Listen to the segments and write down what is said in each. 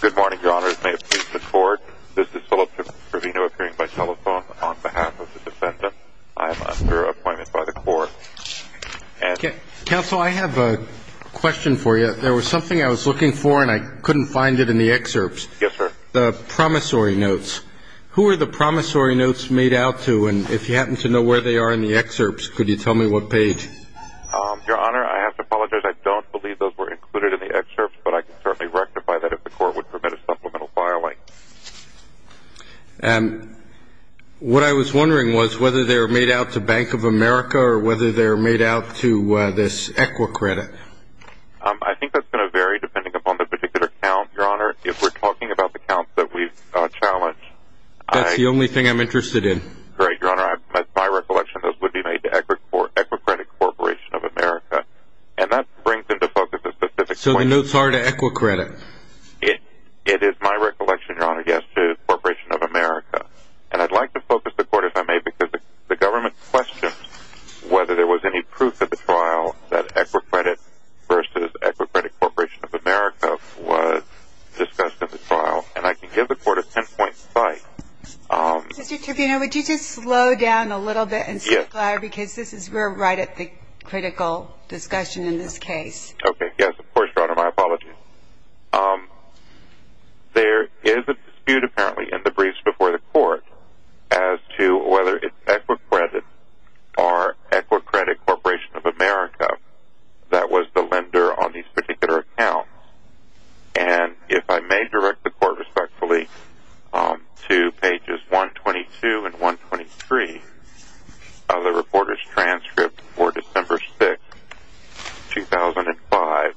Good morning, your honors. May it please the court, this is Philip Trevino appearing by telephone on behalf of the defendant. I am under appointment by the court. Counsel, I have a question for you. There was something I was looking for and I couldn't find it in the excerpts. Yes, sir. The promissory notes. Who are the promissory notes made out to? And if you happen to know where they are in the excerpts, could you tell me what page? Your honor, I have to apologize. I don't believe those were included in the excerpts, but I can certainly rectify that if the court would permit a supplemental filing. And what I was wondering was whether they were made out to Bank of America or whether they were made out to this Equicredit. I think that's going to vary depending upon the particular account, your honor. If we're talking about the accounts that we've challenged. That's the only thing I'm interested in. Great, your honor. That's my recollection. Those would be made to Equicredit Corporation of America. And that brings into focus a specific point. So the notes are to Equicredit? It is my recollection, your honor, yes, to the Corporation of America. And I'd like to focus the court, if I may, because the government questioned whether there was any proof at the trial that Equicredit versus Equicredit Corporation of America was discussed in the trial. And I can give the court a ten-point spike. Mr. Tribuneau, would you just slow down a little bit and speak louder because we're right at the critical discussion in this case. Okay, yes, of course, your honor. My apologies. There is a dispute, apparently, in the briefs before the court as to whether it's Equicredit or Equicredit Corporation of America that was the lender on these particular accounts. And if I may direct the court respectfully to pages 122 and 123 of the reporter's transcript for December 6, 2005.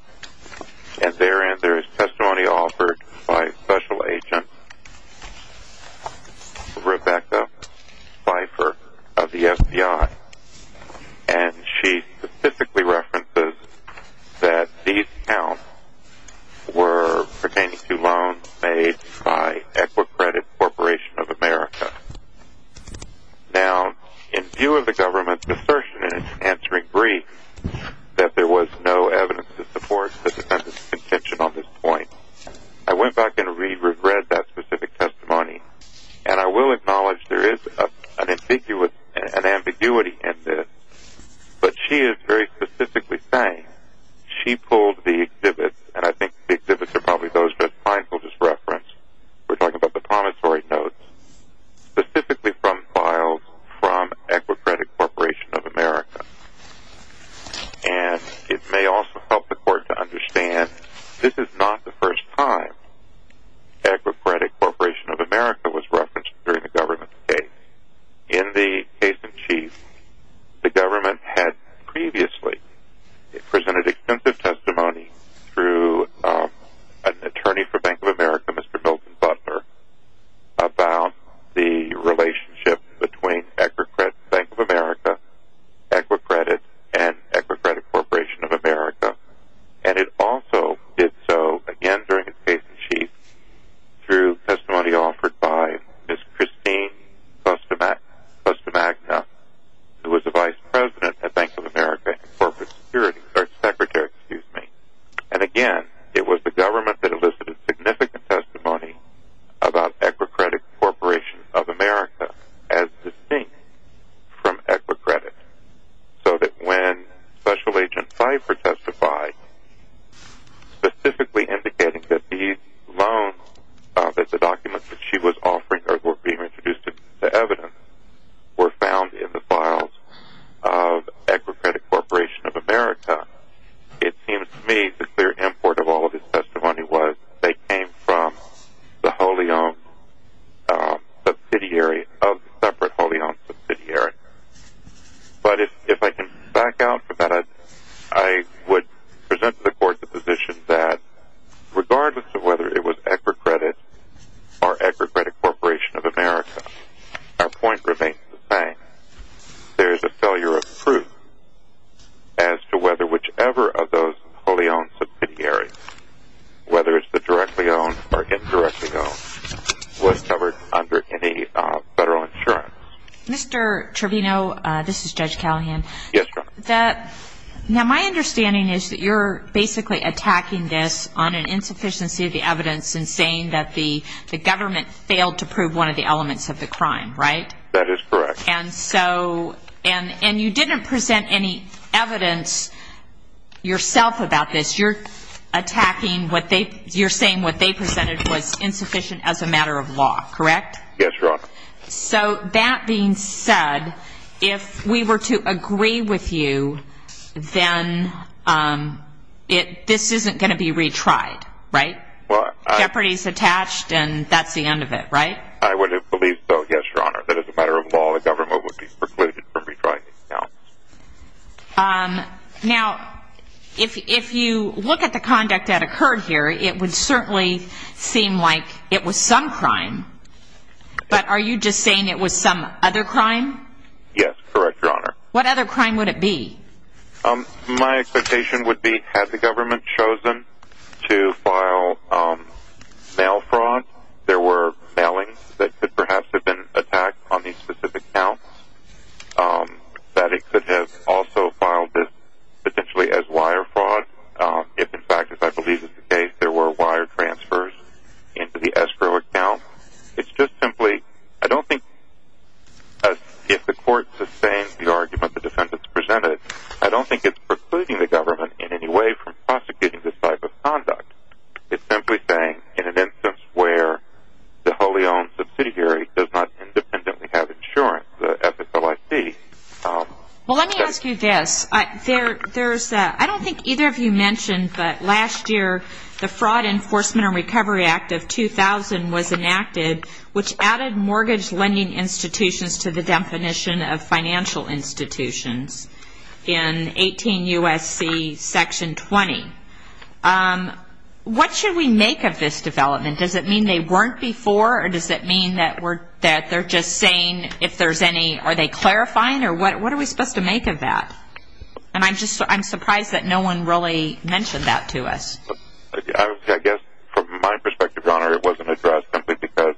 And therein there is testimony offered by Special Agent Rebecca Pfeiffer of the FBI. And she specifically references that these accounts were pertaining to loans made by Equicredit Corporation of America. Now, in view of the government's assertion in its answering brief that there was no evidence to support the defendant's contention on this point, I went back and reread that specific testimony. And I will acknowledge there is an ambiguity in this. But she is very specifically saying she pulled the exhibits, and I think the exhibits are probably those that the client will just reference. We're talking about the promissory notes, specifically from files from Equicredit Corporation of America. And it may also help the court to understand this is not the first time Equicredit Corporation of America was referenced during the government's case. In the case in chief, the government had previously presented extensive testimony through an attorney for Bank of America, Mr. Milton Butler, about the relationship between Bank of America, Equicredit, and Equicredit Corporation of America. And it also did so, again, during its case in chief, through testimony offered by Ms. Christine Bustamagna, who was the vice president at Bank of America and corporate security, or secretary, excuse me. And again, it was the government that elicited significant testimony about Equicredit Corporation of America as distinct from Equicredit. So that when Special Agent Pfeiffer testified, specifically indicating that these loans, that the documents that she was offering or were being introduced as evidence, were found in the files of Equicredit Corporation of America, it seems to me the clear import of all of this testimony was that they came from the wholly-owned subsidiary of separate wholly-owned subsidiaries. But if I can back out from that, I would present to the court the position that, regardless of whether it was Equicredit or Equicredit Corporation of America, our point remains the same. There is a failure of proof as to whether whichever of those wholly-owned subsidiaries, whether it's the directly-owned or indirectly-owned, was covered under any federal insurance. Mr. Trevino, this is Judge Callahan. Yes, Your Honor. Now, my understanding is that you're basically attacking this on an insufficiency of the evidence and saying that the government failed to prove one of the elements of the crime, right? That is correct. And you didn't present any evidence yourself about this. You're saying what they presented was insufficient as a matter of law, correct? Yes, Your Honor. So that being said, if we were to agree with you, then this isn't going to be retried, right? Jeopardy is attached and that's the end of it, right? I would have believed so, yes, Your Honor. But as a matter of law, the government would be precluded from retrying these accounts. Now, if you look at the conduct that occurred here, it would certainly seem like it was some crime. But are you just saying it was some other crime? Yes, correct, Your Honor. What other crime would it be? My expectation would be had the government chosen to file mail fraud, there were mailings that could perhaps have been attacked on these specific accounts, that it could have also filed this potentially as wire fraud if, in fact, as I believe is the case, there were wire transfers into the escrow account. It's just simply, I don't think, as if the court sustained the argument the defendants presented, I don't think it's precluding the government in any way from prosecuting this type of conduct. It's simply saying in an instance where the wholly owned subsidiary does not independently have insurance, the FSLIC. Well, let me ask you this. I don't think either of you mentioned, but last year the Fraud Enforcement and Recovery Act of 2000 was enacted, which added mortgage lending institutions to the definition of financial institutions in 18 U.S.C. Section 20. What should we make of this development? Does it mean they weren't before, or does it mean that they're just saying if there's any, are they clarifying, or what are we supposed to make of that? And I'm surprised that no one really mentioned that to us. I guess from my perspective, Your Honor, it wasn't addressed simply because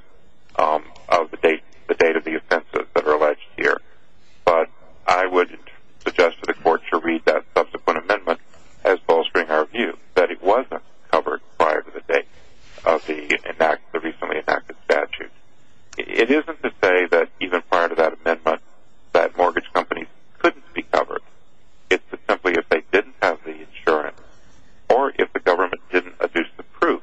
of the date of the offenses that are alleged here. But I would suggest to the court to read that subsequent amendment as bolstering our view, that it wasn't covered prior to the date of the recently enacted statute. It isn't to say that even prior to that amendment that mortgage companies couldn't be covered. It's simply if they didn't have the insurance, or if the government didn't adduce the proof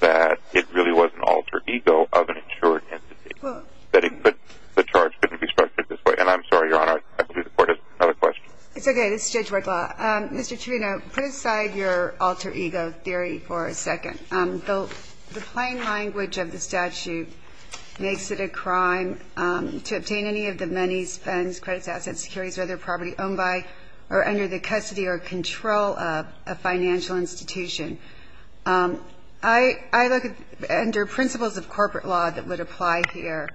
that it really was an alter ego of an insured entity, that the charge couldn't be structured this way. And I'm sorry, Your Honor, I believe the court has another question. It's okay. This is Judge Werdla. Mr. Trivino, put aside your alter ego theory for a second. The plain language of the statute makes it a crime to obtain any of the money, whether property owned by or under the custody or control of a financial institution. I look at under principles of corporate law that would apply here.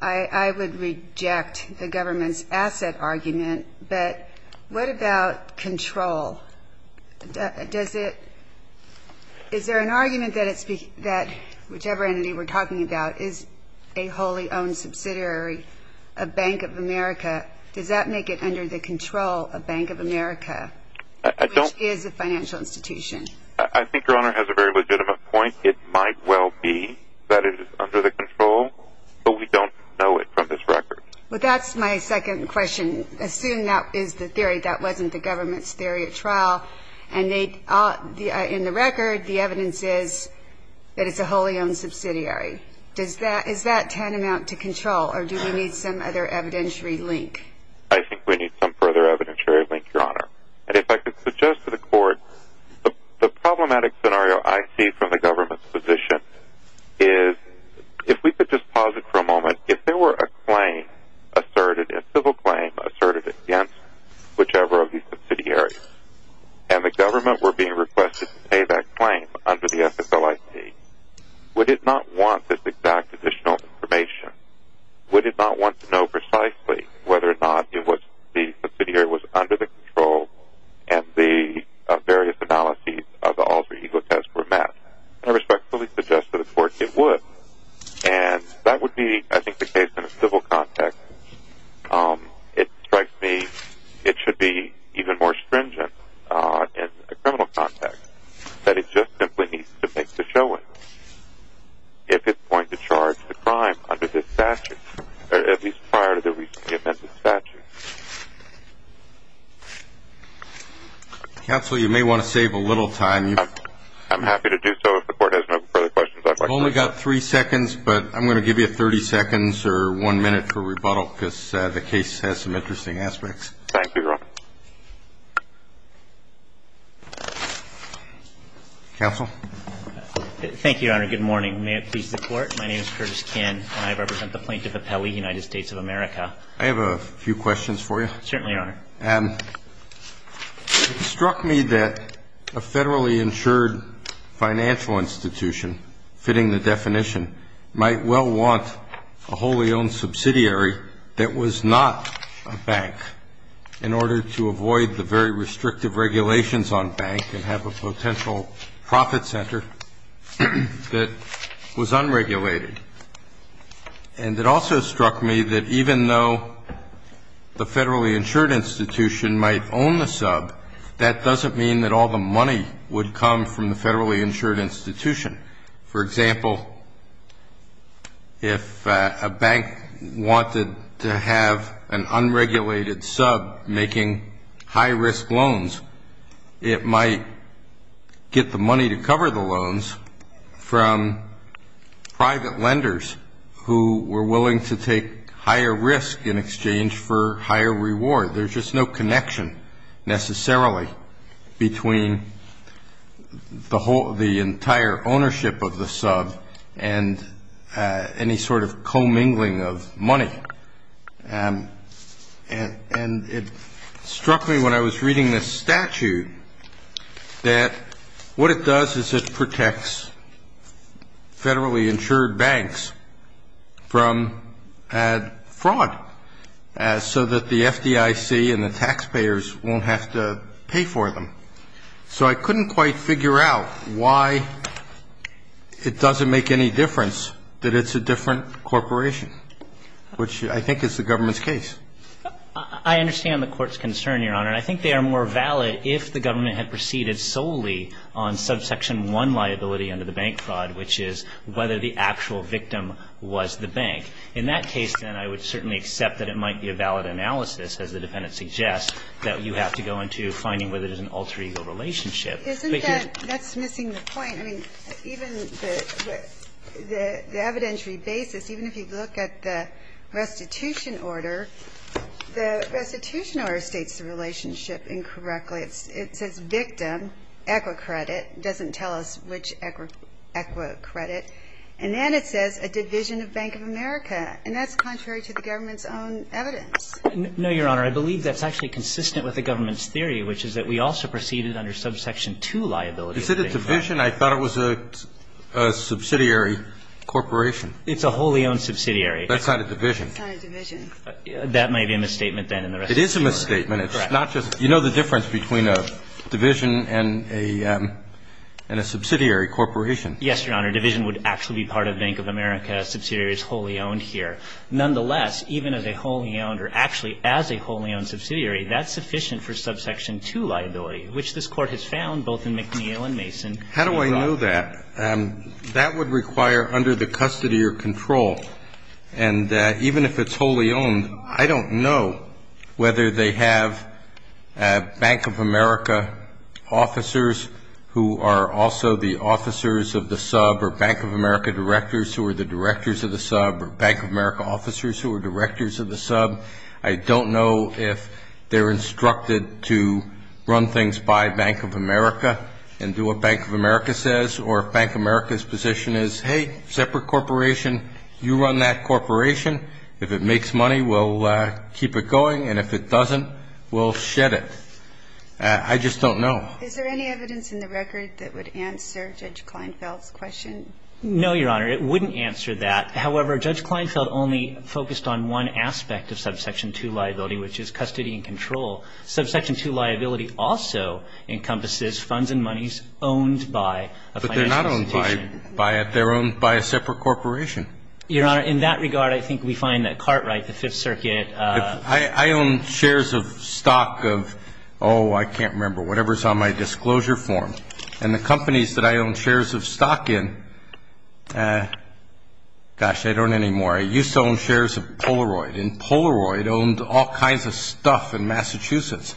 I would reject the government's asset argument. But what about control? Is there an argument that whichever entity we're talking about is a wholly owned subsidiary, a Bank of America, does that make it under the control of Bank of America, which is a financial institution? I think Your Honor has a very legitimate point. It might well be that it is under the control, but we don't know it from this record. Well, that's my second question. Assume that is the theory, that wasn't the government's theory at trial, and in the record the evidence is that it's a wholly owned subsidiary. Is that tantamount to control, or do we need some other evidentiary link? I think we need some further evidentiary link, Your Honor. And if I could suggest to the Court the problematic scenario I see from the government's position is, if we could just pause it for a moment, if there were a claim asserted, a civil claim asserted against whichever of these subsidiaries, and the government were being requested to pay that claim under the FFLIC, would it not want this exact additional information? Would it not want to know precisely whether or not the subsidiary was under the control and the various analyses of the alter ego test were met? I respectfully suggest to the Court it would. And that would be, I think, the case in a civil context. It strikes me it should be even more stringent in a criminal context, that it just simply needs to make the showing if it's going to charge the crime under this statute, or at least prior to the recently amended statute. Counsel, you may want to save a little time. I'm happy to do so if the Court has no further questions. I've only got three seconds, but I'm going to give you 30 seconds or one minute for rebuttal because the case has some interesting aspects. Thank you, Your Honor. Counsel? Thank you, Your Honor. Good morning. May it please the Court. My name is Curtis Kinn, and I represent the Plaintiff Appellee, United States of America. I have a few questions for you. Certainly, Your Honor. It struck me that a federally insured financial institution, fitting the definition, might well want a wholly owned subsidiary that was not a bank, in order to avoid the very restrictive regulations on bank and have a potential profit center that was unregulated. And it also struck me that even though the federally insured institution might own the sub, that doesn't mean that all the money would come from the federally insured institution. For example, if a bank wanted to have an unregulated sub making high-risk loans, it might get the money to cover the loans from private lenders who were willing to take higher risk in exchange for higher reward. There's just no connection necessarily between the entire ownership of the sub and any sort of commingling of money. And it struck me when I was reading this statute that what it does is it protects federally insured banks from fraud, so that the FDIC and the taxpayers won't have to pay for them. So I couldn't quite figure out why it doesn't make any difference that it's a different corporation, which I think is the government's case. I understand the Court's concern, Your Honor. And I think they are more valid if the government had proceeded solely on subsection 1 liability under the bank fraud, which is whether the actual victim was the bank. In that case, then, I would certainly accept that it might be a valid analysis, as the defendant suggests, that you have to go into finding whether it is an alter ego relationship. Isn't that missing the point? I mean, even the evidentiary basis, even if you look at the restitution order, the restitution order states the relationship incorrectly. It says victim, Equicredit. It doesn't tell us which Equicredit. And then it says a division of Bank of America. And that's contrary to the government's own evidence. No, Your Honor. I believe that's actually consistent with the government's theory, which is that we also proceeded under subsection 2 liability. Is it a division? I thought it was a subsidiary corporation. It's a wholly owned subsidiary. That's not a division. It's not a division. That might be a misstatement, then, in the restitution order. It is a misstatement. Correct. It's not just you know the difference between a division and a subsidiary corporation. Yes, Your Honor. A division would actually be part of Bank of America. A subsidiary is wholly owned here. Nonetheless, even as a wholly owned or actually as a wholly owned subsidiary, that's sufficient for subsection 2 liability, which this Court has found both in McNeil and Mason. How do I know that? That would require under the custody or control. And even if it's wholly owned, I don't know whether they have Bank of America officers who are also the officers of the sub or Bank of America directors who are the directors of the sub or Bank of America officers who are directors of the sub. I don't know if they're instructed to run things by Bank of America and do what Bank of America says or if Bank of America's position is, hey, separate corporation, you run that corporation. If it makes money, we'll keep it going. And if it doesn't, we'll shed it. I just don't know. Is there any evidence in the record that would answer Judge Kleinfeld's question? No, Your Honor. It wouldn't answer that. However, Judge Kleinfeld only focused on one aspect of subsection 2 liability, which is custody and control. Subsection 2 liability also encompasses funds and monies owned by a financial institution. But they're not owned by a separate corporation. Your Honor, in that regard, I think we find that Cartwright, the Fifth Circuit ---- I own shares of stock of, oh, I can't remember, whatever's on my disclosure form. And the companies that I own shares of stock in, gosh, I don't anymore. I used to own shares of Polaroid, and Polaroid owned all kinds of stuff in Massachusetts.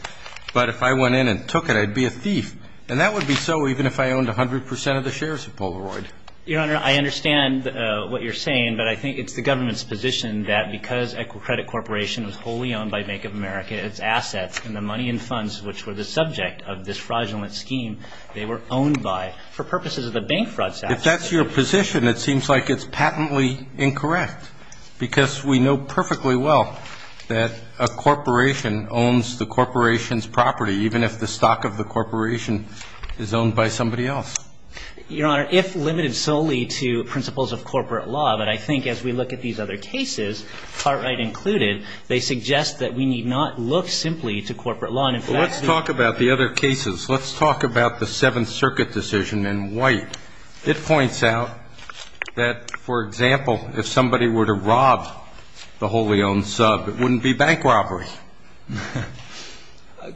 But if I went in and took it, I'd be a thief. And that would be so even if I owned 100 percent of the shares of Polaroid. Your Honor, I understand what you're saying, but I think it's the government's position that because Equicredit Corporation was wholly owned by Bank of America, its assets and the money and funds which were the subject of this fraudulent scheme, they were owned by, for purposes of the bank fraud statute. If that's your position, it seems like it's patently incorrect, because we know perfectly well that a corporation owns the corporation's property, even if the stock of the corporation is owned by somebody else. Your Honor, if limited solely to principles of corporate law, then I think as we look at these other cases, Cartwright included, they suggest that we need not look simply to corporate law. And in fact, the other cases, let's talk about the Seventh Circuit decision in White. It points out that, for example, if somebody were to rob the wholly owned sub, it wouldn't be bank robbery.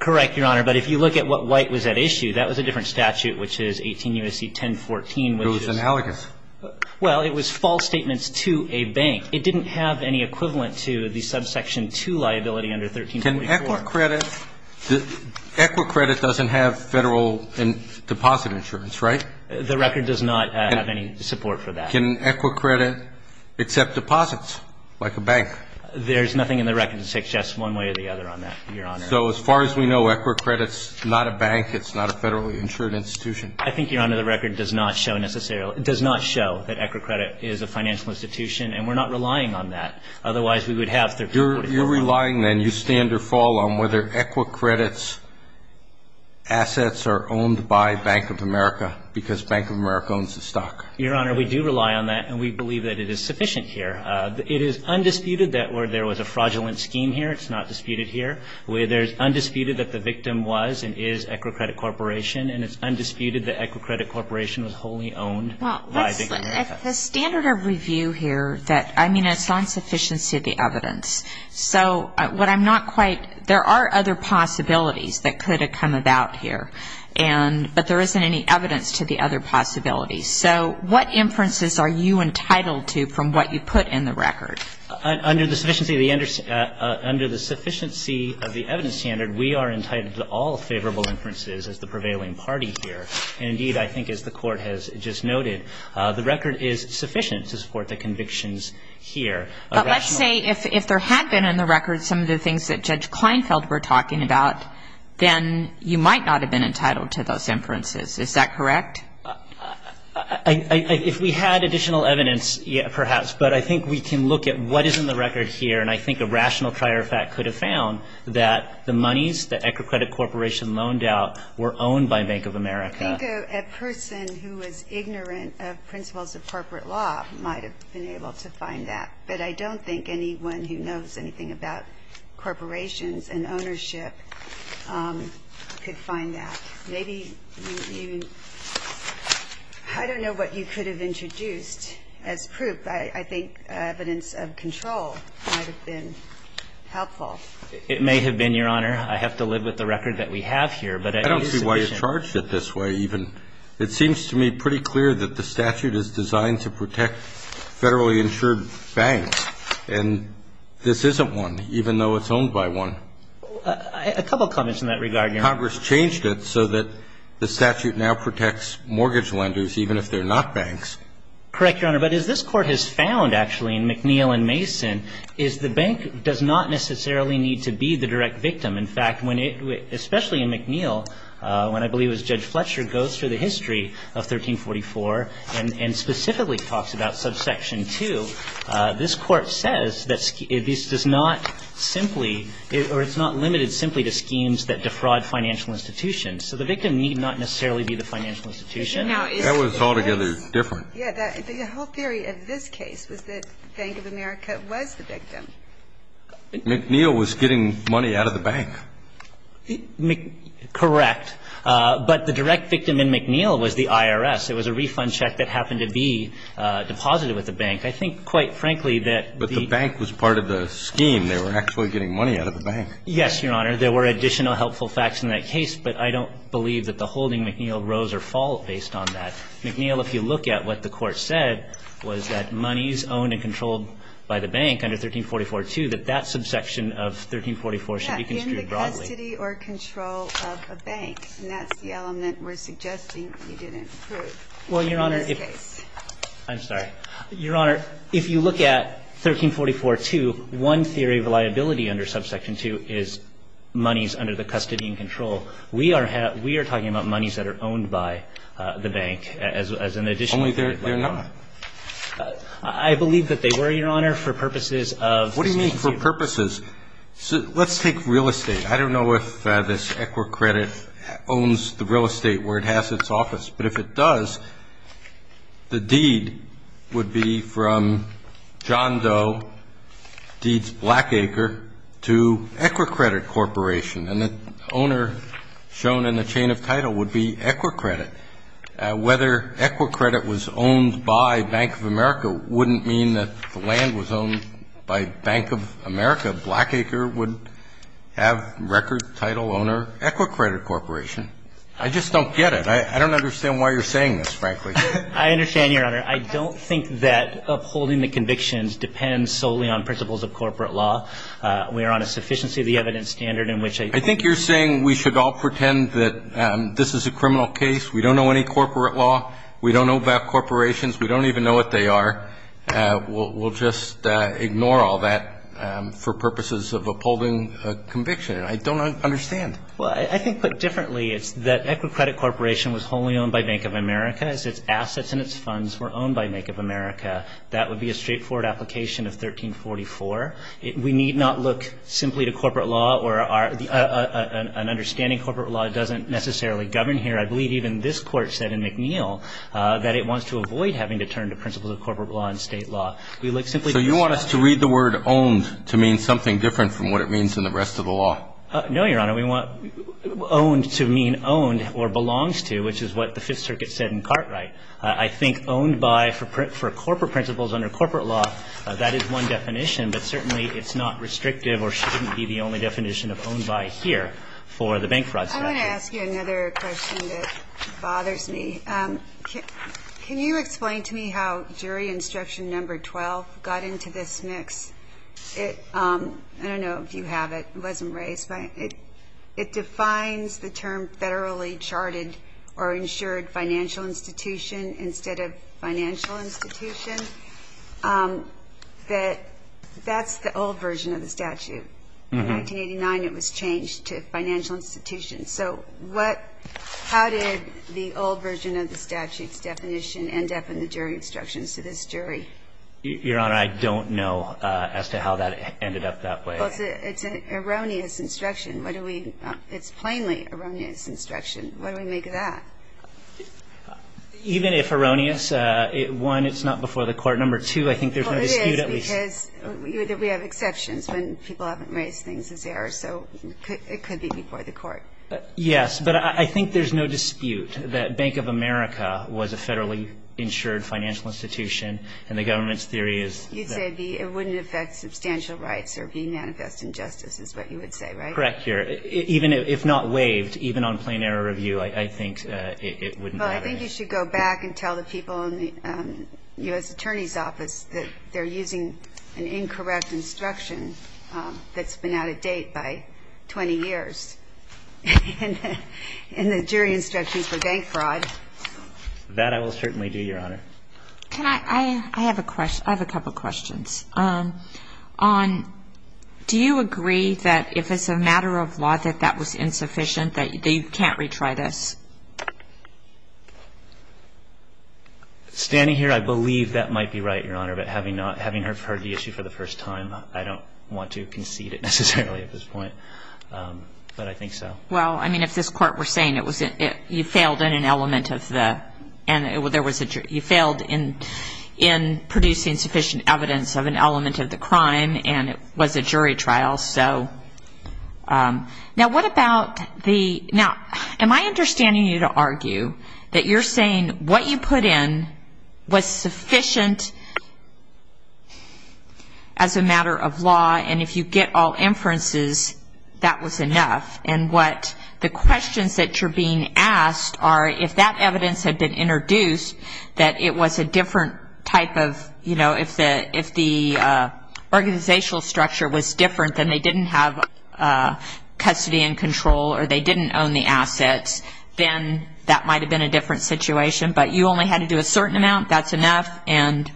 Correct, Your Honor. But if you look at what White was at issue, that was a different statute, which is 18 U.S.C. 1014, which is ---- It was analogous. Well, it was false statements to a bank. It didn't have any equivalent to the subsection 2 liability under 1344. Can ECWR credit ---- ECWR credit doesn't have Federal deposit insurance, right? The record does not have any support for that. Can ECWR credit accept deposits, like a bank? There's nothing in the record to suggest one way or the other on that, Your Honor. So as far as we know, ECWR credit's not a bank. It's not a Federally insured institution. I think, Your Honor, the record does not show necessarily ---- does not show that ECWR credit is a financial institution, and we're not relying on that. Otherwise, we would have 1344. You're relying, then, you stand or fall on whether ECWR credit's assets are owned by Bank of America because Bank of America owns the stock. Your Honor, we do rely on that, and we believe that it is sufficient here. It is undisputed that there was a fraudulent scheme here. It's not disputed here. There's undisputed that the victim was and is ECWR credit corporation, and it's undisputed that ECWR credit corporation was wholly owned by Bank of America. Well, the standard of review here that ---- I mean, it's on sufficiency of the evidence. So what I'm not quite ---- there are other possibilities that could have come about here, but there isn't any evidence to the other possibilities. So what inferences are you entitled to from what you put in the record? Under the sufficiency of the evidence standard, we are entitled to all favorable inferences as the prevailing party here. And, indeed, I think as the Court has just noted, the record is sufficient to support the convictions here. But let's say if there had been in the record some of the things that Judge Kleinfeld were talking about, then you might not have been entitled to those inferences. Is that correct? If we had additional evidence, perhaps. But I think we can look at what is in the record here, and I think a rational prior fact could have found that the monies that ECWR credit corporation loaned out were owned by Bank of America. I think a person who was ignorant of principles of corporate law might have been able to find that. But I don't think anyone who knows anything about corporations and ownership could find that. Maybe you ---- I don't know what you could have introduced as proof. I think evidence of control might have been helpful. It may have been, Your Honor. I have to live with the record that we have here. But it is sufficient. I don't see why you charged it this way even. It seems to me pretty clear that the statute is designed to protect federally insured banks. And this isn't one, even though it's owned by one. A couple of comments in that regard, Your Honor. Congress changed it so that the statute now protects mortgage lenders, even if they're not banks. Correct, Your Honor. But as this Court has found, actually, in McNeill and Mason, is the bank does not necessarily need to be the direct victim. In fact, when it ---- especially in McNeill, when I believe it was Judge Fletcher goes through the history of 1344 and specifically talks about subsection 2, this Court says that this does not simply ---- or it's not limited simply to schemes that defraud financial institutions. So the victim need not necessarily be the financial institution. That was altogether different. Yeah. The whole theory of this case was that Bank of America was the victim. McNeill was getting money out of the bank. Correct. But the direct victim in McNeill was the IRS. It was a refund check that happened to be deposited with the bank. I think, quite frankly, that the ---- But the bank was part of the scheme. They were actually getting money out of the bank. Yes, Your Honor. There were additional helpful facts in that case, but I don't believe that the holding McNeill rose or fell based on that. McNeill, if you look at what the Court said, was that monies owned and controlled by the bank under 1344-2, that that subsection of 1344 should be construed broadly. In the custody or control of a bank, and that's the element we're suggesting you didn't prove in this case. Well, Your Honor, if you look at 1344-2, one theory of liability under subsection 2 is monies under the custody and control. We are talking about monies that are owned by the bank as an additional liability. Only they're not. I believe that they were, Your Honor, for purposes of ---- What do you mean for purposes? Let's take real estate. I don't know if this Equicredit owns the real estate where it has its office, but if it does, the deed would be from John Doe, Deeds Blackacre, to Equicredit Corporation. And the owner shown in the chain of title would be Equicredit. Whether Equicredit was owned by Bank of America wouldn't mean that the land was owned by Bank of America. Blackacre would have record title owner, Equicredit Corporation. I just don't get it. I don't understand why you're saying this, frankly. I understand, Your Honor. I don't think that upholding the convictions depends solely on principles of corporate law. We are on a sufficiency of the evidence standard in which a ---- I think you're saying we should all pretend that this is a criminal case. We don't know any corporate law. We don't know about corporations. We don't even know what they are. We'll just ignore all that for purposes of upholding conviction. And I don't understand. Well, I think put differently, it's that Equicredit Corporation was wholly owned by Bank of America. Its assets and its funds were owned by Bank of America. That would be a straightforward application of 1344. We need not look simply to corporate law or our ---- an understanding corporate law doesn't necessarily govern here. I believe even this Court said in McNeill that it wants to avoid having to turn to principles of corporate law and State law. We look simply to ---- So you want us to read the word owned to mean something different from what it means in the rest of the law? No, Your Honor. We want owned to mean owned or belongs to, which is what the Fifth Circuit said in Cartwright. I think owned by for corporate principles under corporate law, that is one definition, but certainly it's not restrictive or shouldn't be the only definition of owned by here for the bank fraud statute. I'm going to ask you another question that bothers me. Can you explain to me how jury instruction number 12 got into this mix? I don't know if you have it. It wasn't raised. It defines the term federally charted or insured financial institution instead of financial institution. That's the old version of the statute. In 1989, it was changed to financial institution. So what ---- how did the old version of the statute's definition end up in the jury instructions to this jury? Your Honor, I don't know as to how that ended up that way. It's an erroneous instruction. What do we ---- it's plainly erroneous instruction. What do we make of that? Even if erroneous, one, it's not before the court. Number two, I think there's no dispute at least. Well, it is because we have exceptions when people haven't raised things as errors. So it could be before the court. Yes. But I think there's no dispute that Bank of America was a federally insured financial institution, and the government's theory is that ---- You'd say it wouldn't affect substantial rights or be manifest injustice is what you would say, right? Correct, Your Honor. Even if not waived, even on plain error review, I think it wouldn't have any ---- Well, I think you should go back and tell the people in the U.S. Attorney's Office that they're using an incorrect instruction that's been out of date by 20 years in the jury instructions for bank fraud. That I will certainly do, Your Honor. Can I ---- I have a question. I have a couple of questions. On ---- do you agree that if it's a matter of law that that was insufficient, that you can't retry this? Standing here, I believe that might be right, Your Honor. But having not ---- having heard the issue for the first time, I don't want to concede it necessarily at this point. But I think so. Well, I mean, if this Court were saying it was ---- you failed in an element of the ---- you failed in producing sufficient evidence of an element of the crime, and it was a jury trial, so. Now, what about the ---- now, am I understanding you to argue that you're saying what you put in was sufficient as a matter of law, and if you get all inferences, that was enough? And what the questions that you're being asked are, if that evidence had been introduced, that it was a different type of, you know, if the organizational structure was different, then they didn't have custody and control, or they didn't own the assets, then that might have been a different situation. But you only had to do a certain amount, that's enough? And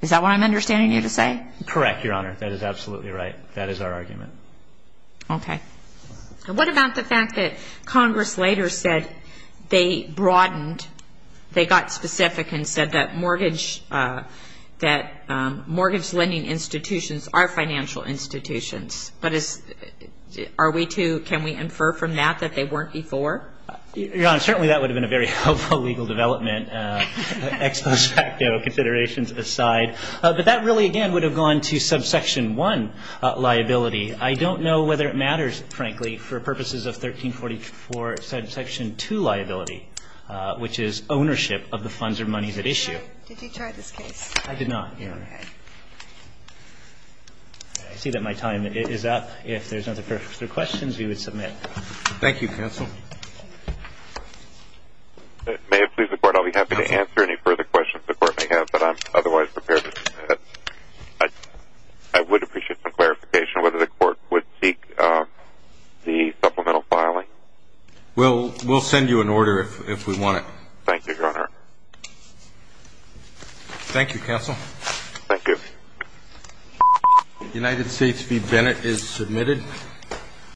is that what I'm understanding you to say? Correct, Your Honor. That is absolutely right. That is our argument. Okay. And what about the fact that Congress later said they broadened, they got specific and said that mortgage ---- that mortgage lending institutions are financial institutions? But is ---- are we to ---- can we infer from that that they weren't before? Your Honor, certainly that would have been a very helpful legal development, ex post facto considerations aside. But that really, again, would have gone to subsection 1, liability. I don't know whether it matters, frankly, for purposes of 1344 subsection 2, liability, which is ownership of the funds or monies at issue. Did you try this case? I did not, Your Honor. Okay. I see that my time is up. If there's no further questions, we would submit. Thank you, counsel. May it please the court, I'll be happy to answer any further questions the court may have, but I'm otherwise prepared to submit. I would appreciate some clarification whether the court would seek the supplemental filing. We'll send you an order if we want it. Thank you, Your Honor. Thank you, counsel. Thank you. United States v. Bennett is submitted.